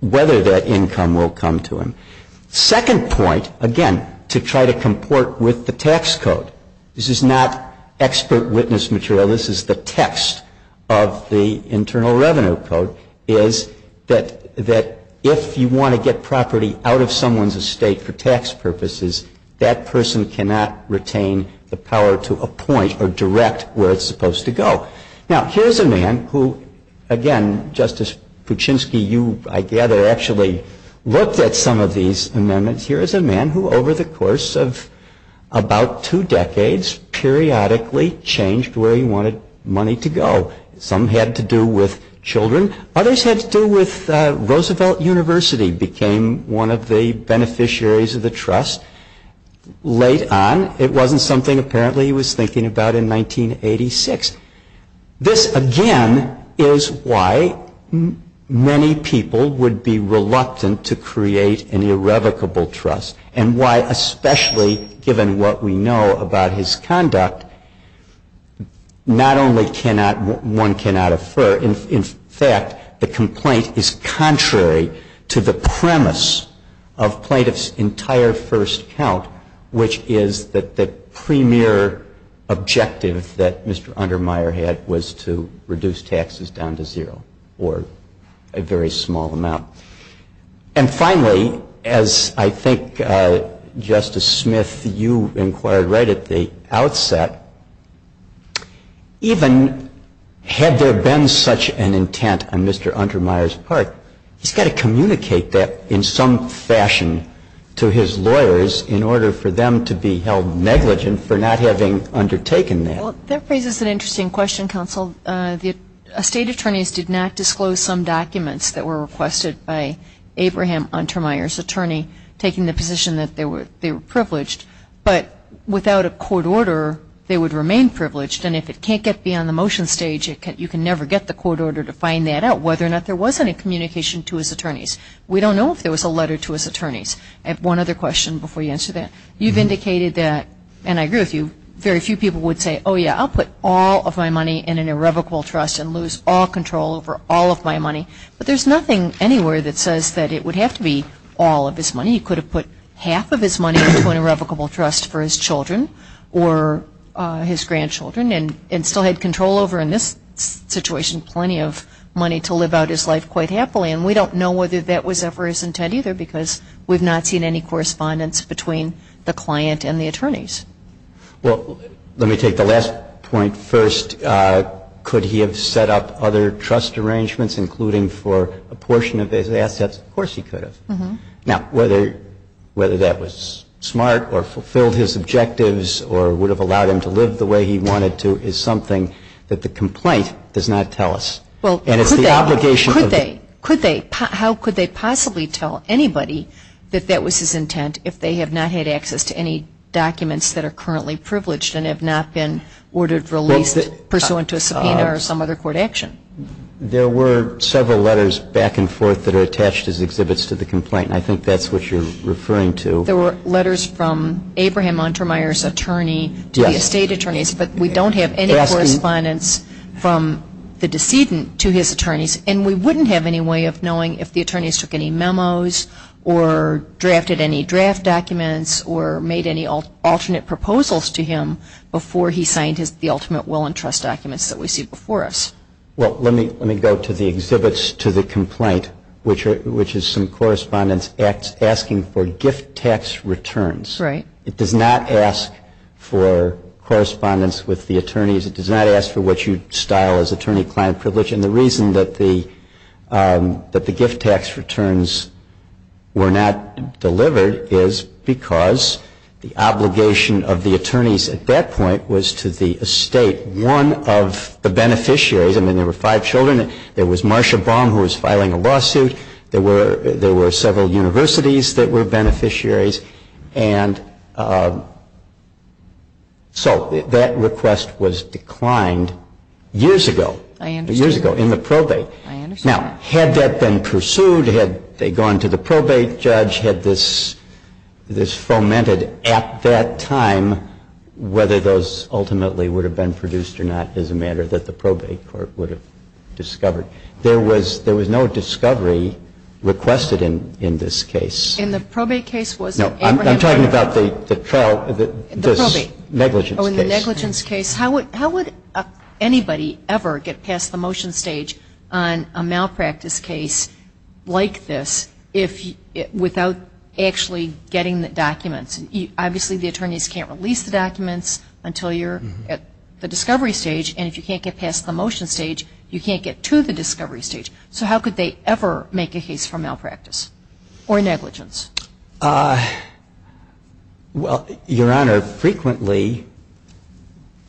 whether that income will come to him. Second point, again, to try to comport with the tax code. This is not expert witness material. This is the text of the Internal Revenue Code, is that if you want to get property out of someone's estate for tax purposes, that person cannot retain the power to appoint or direct where it's supposed to go. Now, here's a man who, again, Justice Kuczynski, you, I gather, actually looked at some of these amendments. Here is a man who, over the course of about two decades, periodically changed where he wanted money to go. Some had to do with children. Others had to do with Roosevelt University became one of the beneficiaries of the trust. Late on, it wasn't something apparently he was thinking about in 1986. This, again, is why many people would be reluctant to create an irrevocable trust and why, especially given what we know about his conduct, not only cannot one cannot affirm, in fact, the complaint is contrary to the premise of plaintiff's entire first count, which is that the premier objective that Mr. Undermire had was to reduce taxes down to zero or a very small amount. And finally, as I think, Justice Smith, you inquired right at the outset, even had there been such an intent on Mr. Undermire's part, he's got to communicate that in some fashion to his lawyers in order for them to be held negligent for not having undertaken that. Well, that raises an interesting question, counsel. State attorneys did not disclose some documents that were requested by Abraham Undermire's attorney taking the position that they were privileged. But without a court order, they would remain privileged. And if it can't get beyond the motion stage, you can never get the court order to find that out, whether or not there was any communication to his attorneys. We don't know if there was a letter to his attorneys. And one other question before you answer that. You've indicated that, and I agree with you, very few people would say, oh, yeah, I'll put all of my money in an irrevocable trust and lose all control over all of my money. But there's nothing anywhere that says that it would have to be all of his money. He could have put half of his money into an irrevocable trust for his children or his grandchildren and still had control over, in this situation, plenty of money to live out his life quite happily. And we don't know whether that was ever his intent either because we've not seen any correspondence between the client and the attorneys. Well, let me take the last point first. Could he have set up other trust arrangements, including for a portion of his assets? Of course he could have. Mm-hmm. Now, whether that was smart or fulfilled his objectives or would have allowed him to live the way he wanted to is something that the complaint does not tell us. And it's the obligation of the court. How could they possibly tell anybody that that was his intent if they have not had access to any documents that are currently privileged and have not been ordered released pursuant to a subpoena or some other court action? There were several letters back and forth that are attached as exhibits to the complaint. I think that's what you're referring to. There were letters from Abraham Untermyer's attorney to the estate attorneys, but we don't have any correspondence from the decedent to his attorneys. And we wouldn't have any way of knowing if the attorneys took any memos or drafted any draft documents or made any alternate proposals to him before he signed the ultimate will and trust documents that we see before us. Well, let me go to the exhibits to the complaint, which is some correspondence asking for gift tax returns. Right. It does not ask for correspondence with the attorneys. It does not ask for what you style as attorney-client privilege. And the reason that the gift tax returns were not delivered is because the obligation of the attorneys at that point was to the estate, one of the beneficiaries. I mean, there were five children. There was Marsha Baum who was filing a lawsuit. There were several universities that were beneficiaries. And so that request was declined years ago. I understand. Years ago, in the probate. I understand that. Now, had that been pursued, had they gone to the probate judge, had this fomented at that time, whether those ultimately would have been produced or not is a matter that the probate court would have discovered. There was no discovery requested in this case. In the probate case was it Abraham? No, I'm talking about the trial, this negligence case. How would anybody ever get past the motion stage on a malpractice case like this without actually getting the documents? Obviously, the attorneys can't release the documents until you're at the discovery stage. And if you can't get past the motion stage, you can't get to the discovery stage. So how could they ever make a case for malpractice or negligence? Well, Your Honor, frequently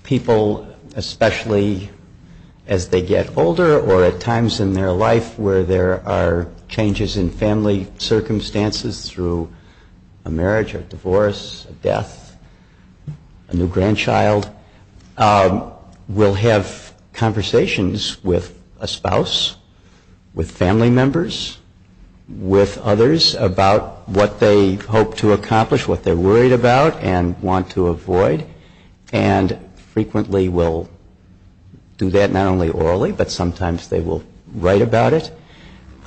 people, especially as they get older or at times in their life where there are changes in family circumstances through a marriage, a divorce, a death, a new grandchild, will have conversations with a spouse, with family members, with others about what they hope to accomplish, what they're worried about and want to avoid. And frequently will do that not only orally, but sometimes they will write about it.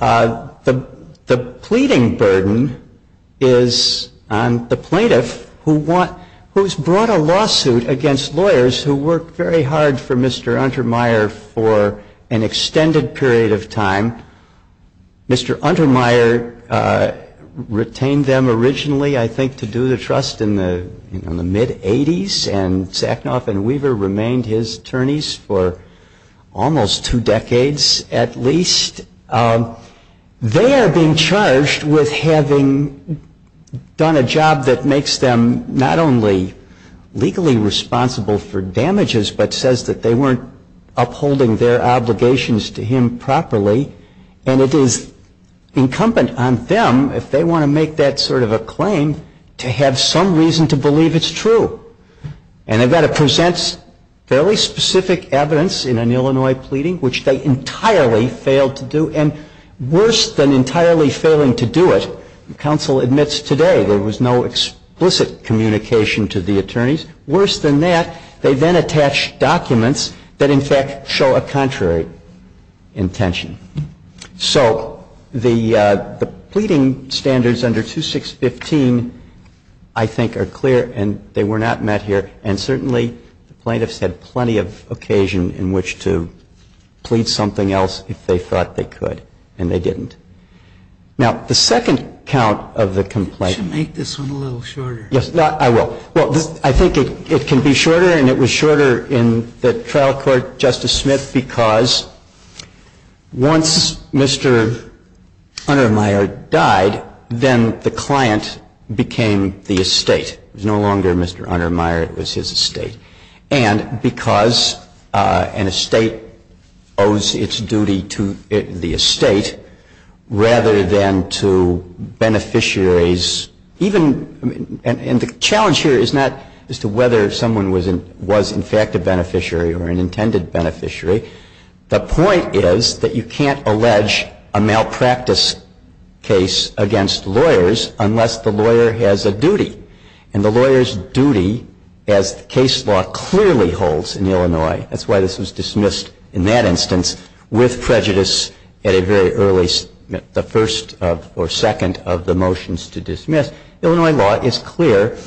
The pleading burden is on the plaintiff who's brought a lawsuit against lawyers who worked very hard for Mr. Untermyer for an extended period of time. Mr. Untermyer retained them originally, I think, to do the trust in the mid-'80s, and Sacknoff and Weaver remained his attorneys for almost two decades at least. They are being charged with having done a job that makes them not only legally responsible for damages, but says that they weren't upholding their obligations to him properly. And it is incumbent on them, if they want to make that sort of a claim, to have some reason to believe it's true. And again, it presents fairly specific evidence in an Illinois pleading, which they entirely failed to do. And worse than entirely failing to do it, counsel admits today there was no explicit communication to the attorneys. Worse than that, they then attach documents that in fact show a contrary. And I think that's a very clear intention. So the pleading standards under 2615, I think, are clear, and they were not met here. And certainly, the plaintiffs had plenty of occasion in which to plead something else if they thought they could, and they didn't. Now, the second count of the complaint. You should make this one a little shorter. Yes, I will. Well, I think it can be shorter, and it was shorter in the trial court, Justice Smith, because once Mr. Unnermeyer died, then the client became the estate. It was no longer Mr. Unnermeyer. It was his estate. And because an estate owes its duty to the estate rather than to beneficiaries and the challenge here is not as to whether someone was in fact a beneficiary or an intended beneficiary. The point is that you can't allege a malpractice case against lawyers unless the lawyer has a duty. And the lawyer's duty, as the case law clearly holds in Illinois, that's why this was dismissed in that instance, with prejudice at a very early, the first or second instance, of a malpractice case. And that's why it's important to dismiss. Illinois law is clear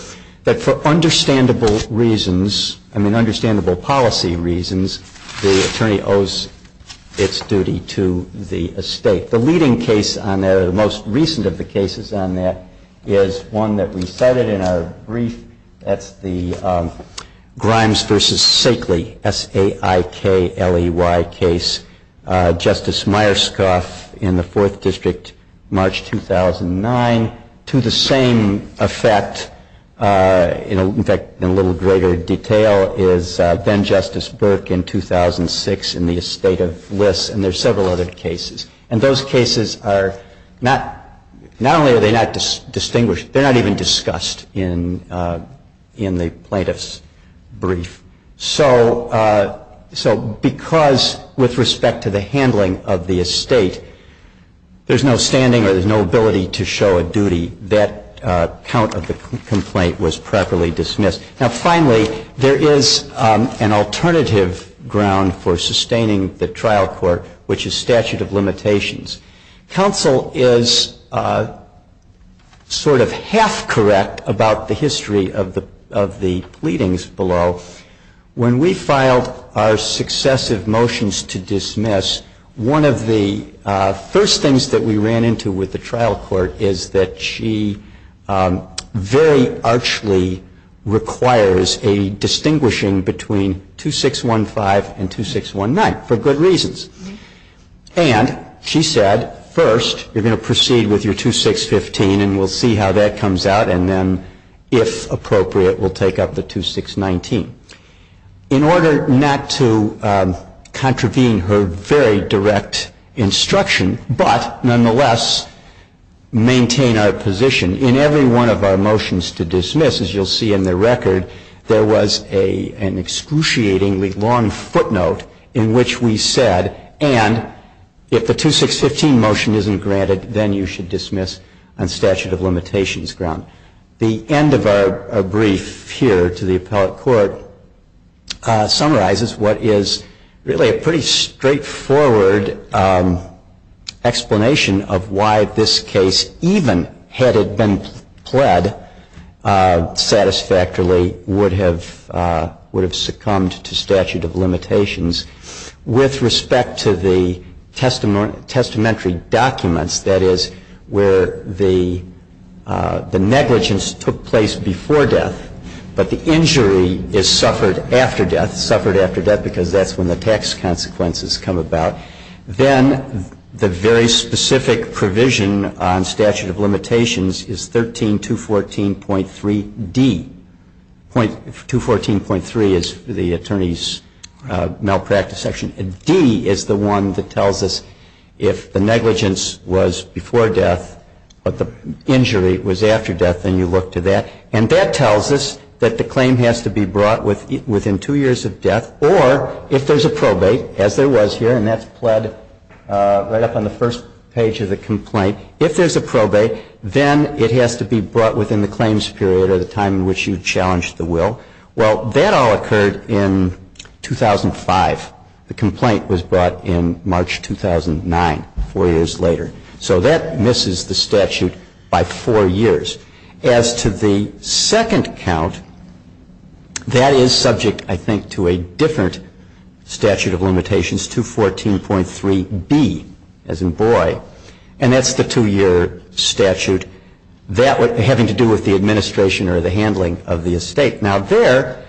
that for understandable reasons, I mean understandable policy reasons, the attorney owes its duty to the estate. The leading case on that, or the most recent of the cases on that, is one that we cited in our brief. That's the Grimes v. Sakely, S-A-I-K-L-E-Y case. Justice Myerscough in the Fourth District, March 2009. To the same effect, in fact, in a little greater detail, is then-Justice Burke in 2006 in the estate of Liss. And there are several other cases. And those cases are not, not only are they not distinguished, they're not even discussed in the plaintiff's brief. So because, with respect to the handling of the estate, there's no standing or there's no ability to show a duty, that count of the complaint was properly dismissed. Now finally, there is an alternative ground for sustaining the trial court, which is statute of limitations. Counsel is sort of half correct about the history of the pleadings below. When we filed our successive motions to dismiss, one of the first things that we ran into with the trial court is that she very archly requires a distinguishing between 2615 and 2619 for good reasons. And she said, first, you're going to proceed with your 2615 and we'll see how that comes out. And then, if appropriate, we'll take up the 2619. In order not to contravene her very direct instruction, but nonetheless maintain our position, in every one of our motions to dismiss, as you'll see in the record, there was an excruciatingly long footnote in which we said, and if the 2615 motion isn't granted, then you should dismiss on statute of limitations ground. The end of our brief here to the appellate court summarizes what is really a pretty straightforward explanation of why this case, even had it been pled satisfactorily would have succumbed to statute of limitations with respect to the testamentary documents, that is, where the negligence took place before death, but the injury is suffered after death, suffered after death because that's when the tax consequences come about. Then the very specific provision on statute of limitations is 13214.3d. 13214.3 is the attorney's malpractice section. And d is the one that tells us if the negligence was before death, but the injury was after death, then you look to that. And that tells us that the claim has to be brought within two years of death, or if there's a probate, as there was here, and that's pled right up on the first page of the complaint, if there's a probate, then it has to be brought within the claims period or the time in which you challenged the will. Well, that all occurred in 2005. The complaint was brought in March 2009, four years later. So that misses the statute by four years. As to the second count, that is subject, I think, to a different statute of limitations, 214.3b, as in boy. And that's the two-year statute. That would have to do with the administration or the handling of the estate. Now, there,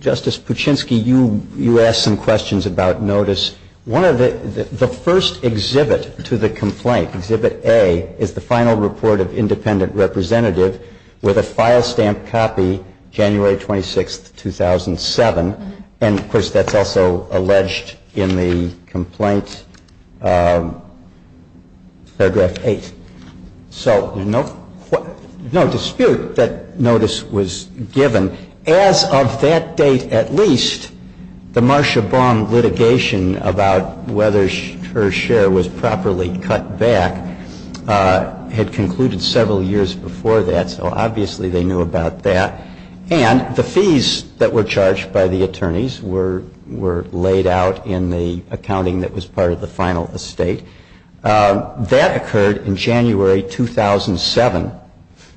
Justice Puchinsky, you asked some questions about notice. The first exhibit to the complaint, Exhibit A, is the final report of independent representative with a file stamp copy, January 26, 2007. And, of course, that's also alleged in the complaint, Paragraph 8. So no dispute that notice was given. As of that date at least, the Marsha Baum litigation about whether her share was properly cut back had concluded several years before that, so obviously they knew about that. And the fees that were charged by the attorneys were laid out in the accounting that was part of the final estate. That occurred in January 2007.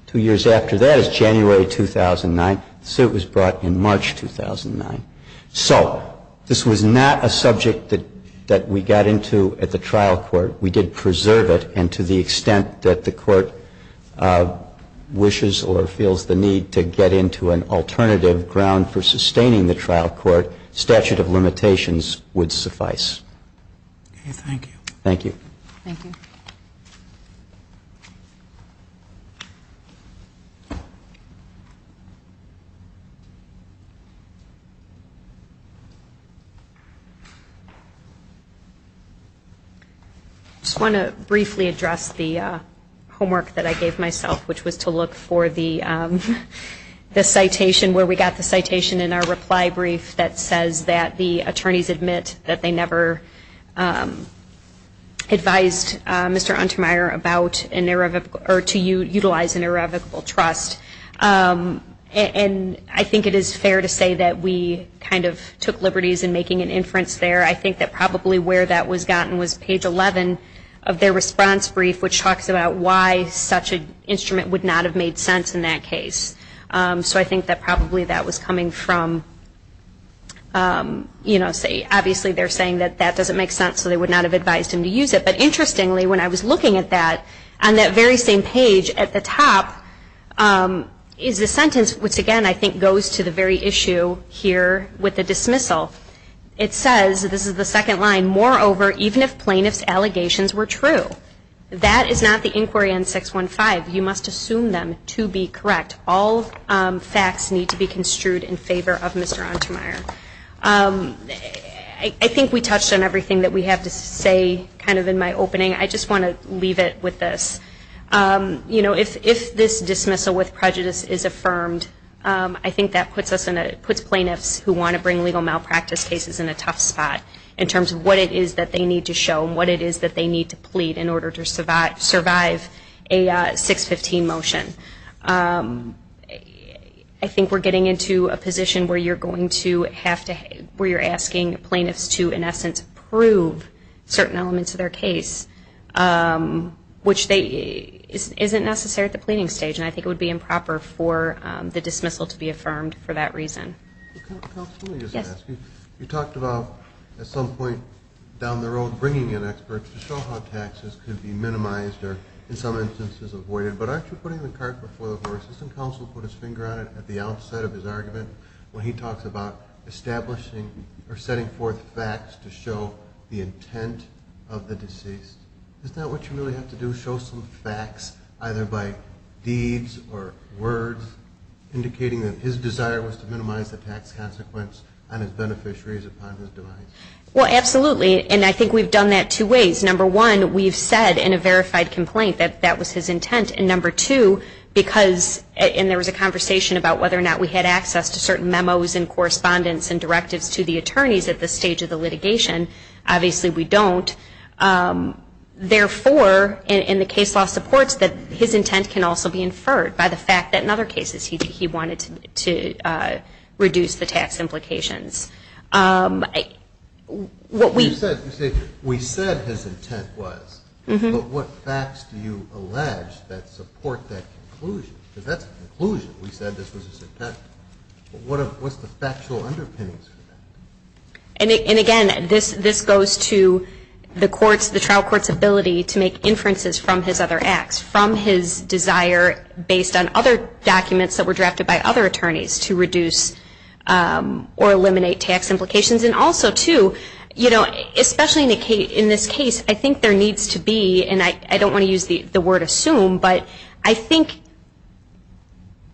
Two years after that is January 2009. The suit was brought in March 2009. So this was not a subject that we got into at the trial court. We did preserve it. And to the extent that the Court wishes or feels the need to get into an alternative ground for sustaining the trial court, statute of limitations would suffice. Okay, thank you. Thank you. Thank you. I just want to briefly address the homework that I gave myself, which was to look for the citation where we got the citation in our reply brief that says that the auditor advised Mr. Untermyer to utilize an irrevocable trust. And I think it is fair to say that we kind of took liberties in making an inference there. I think that probably where that was gotten was page 11 of their response brief, which talks about why such an instrument would not have made sense in that case. So I think that probably that was coming from, you know, obviously they're saying that that doesn't make sense, so they would not have advised him to use it. But interestingly, when I was looking at that, on that very same page at the top is a sentence which, again, I think goes to the very issue here with the dismissal. It says, this is the second line, moreover, even if plaintiff's allegations were true, that is not the inquiry on 615. You must assume them to be correct. All facts need to be construed in favor of Mr. Untermyer. I think we touched on everything that we have to say kind of in my opening. I just want to leave it with this. You know, if this dismissal with prejudice is affirmed, I think that puts plaintiffs who want to bring legal malpractice cases in a tough spot in terms of what it is that they need to show and what it is that they need to plead in order to drive a 615 motion. I think we're getting into a position where you're going to have to, where you're asking plaintiffs to, in essence, prove certain elements of their case, which isn't necessary at the pleading stage, and I think it would be improper for the dismissal to be affirmed for that reason. Counsel, let me just ask you. You talked about, at some point down the road, bringing in experts to show how in some instances avoided, but aren't you putting the cart before the horse? Isn't counsel put his finger on it at the outset of his argument when he talks about establishing or setting forth facts to show the intent of the deceased? Isn't that what you really have to do, show some facts either by deeds or words indicating that his desire was to minimize the tax consequence on his beneficiaries upon his demise? Well, absolutely, and I think we've done that two ways. Number one, we've said in a verified complaint that that was his intent, and number two, because, and there was a conversation about whether or not we had access to certain memos and correspondence and directives to the attorneys at this stage of the litigation, obviously we don't. Therefore, and the case law supports that, his intent can also be inferred by the fact that in other cases he wanted to reduce the tax implications. You say, we said his intent was, but what facts do you allege that support that conclusion? Because that's a conclusion, we said this was his intent, but what's the factual underpinnings for that? And again, this goes to the trial court's ability to make inferences from his other acts, from his desire based on other documents that were drafted by other and also, too, you know, especially in this case, I think there needs to be, and I don't want to use the word assume, but I think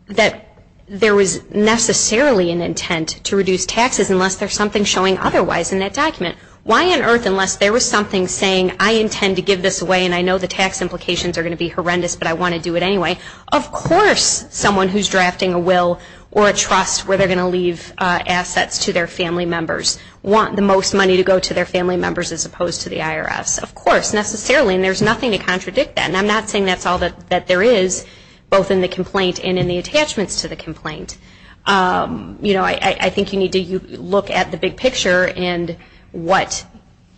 that there was necessarily an intent to reduce taxes unless there's something showing otherwise in that document. Why on earth, unless there was something saying, I intend to give this away, and I know the tax implications are going to be horrendous, but I want to do it anyway. Of course someone who's drafting a will or a trust where they're going to leave assets to their family members want the most money to go to their family members as opposed to the IRS. Of course, necessarily, and there's nothing to contradict that, and I'm not saying that's all that there is, both in the complaint and in the attachments to the complaint. You know, I think you need to look at the big picture and what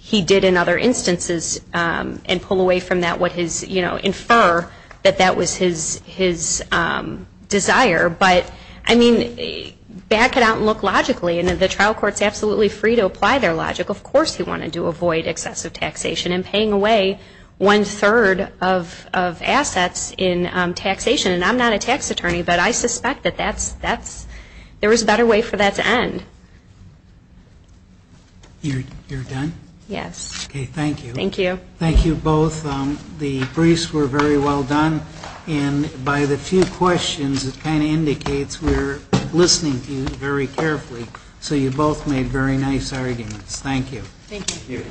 he did in other instances and pull away from that what his, you know, infer that that was his desire. But, I mean, back it out and look logically, and the trial court's absolutely free to apply their logic. Of course he wanted to avoid excessive taxation and paying away one-third of assets in taxation. And I'm not a tax attorney, but I suspect that that's, there was a better way for that to end. You're done? Yes. Okay, thank you. Thank you. Thank you both. The briefs were very well done. And by the few questions, it kind of indicates we're listening to you very carefully. So you both made very nice arguments. Thank you. Thank you.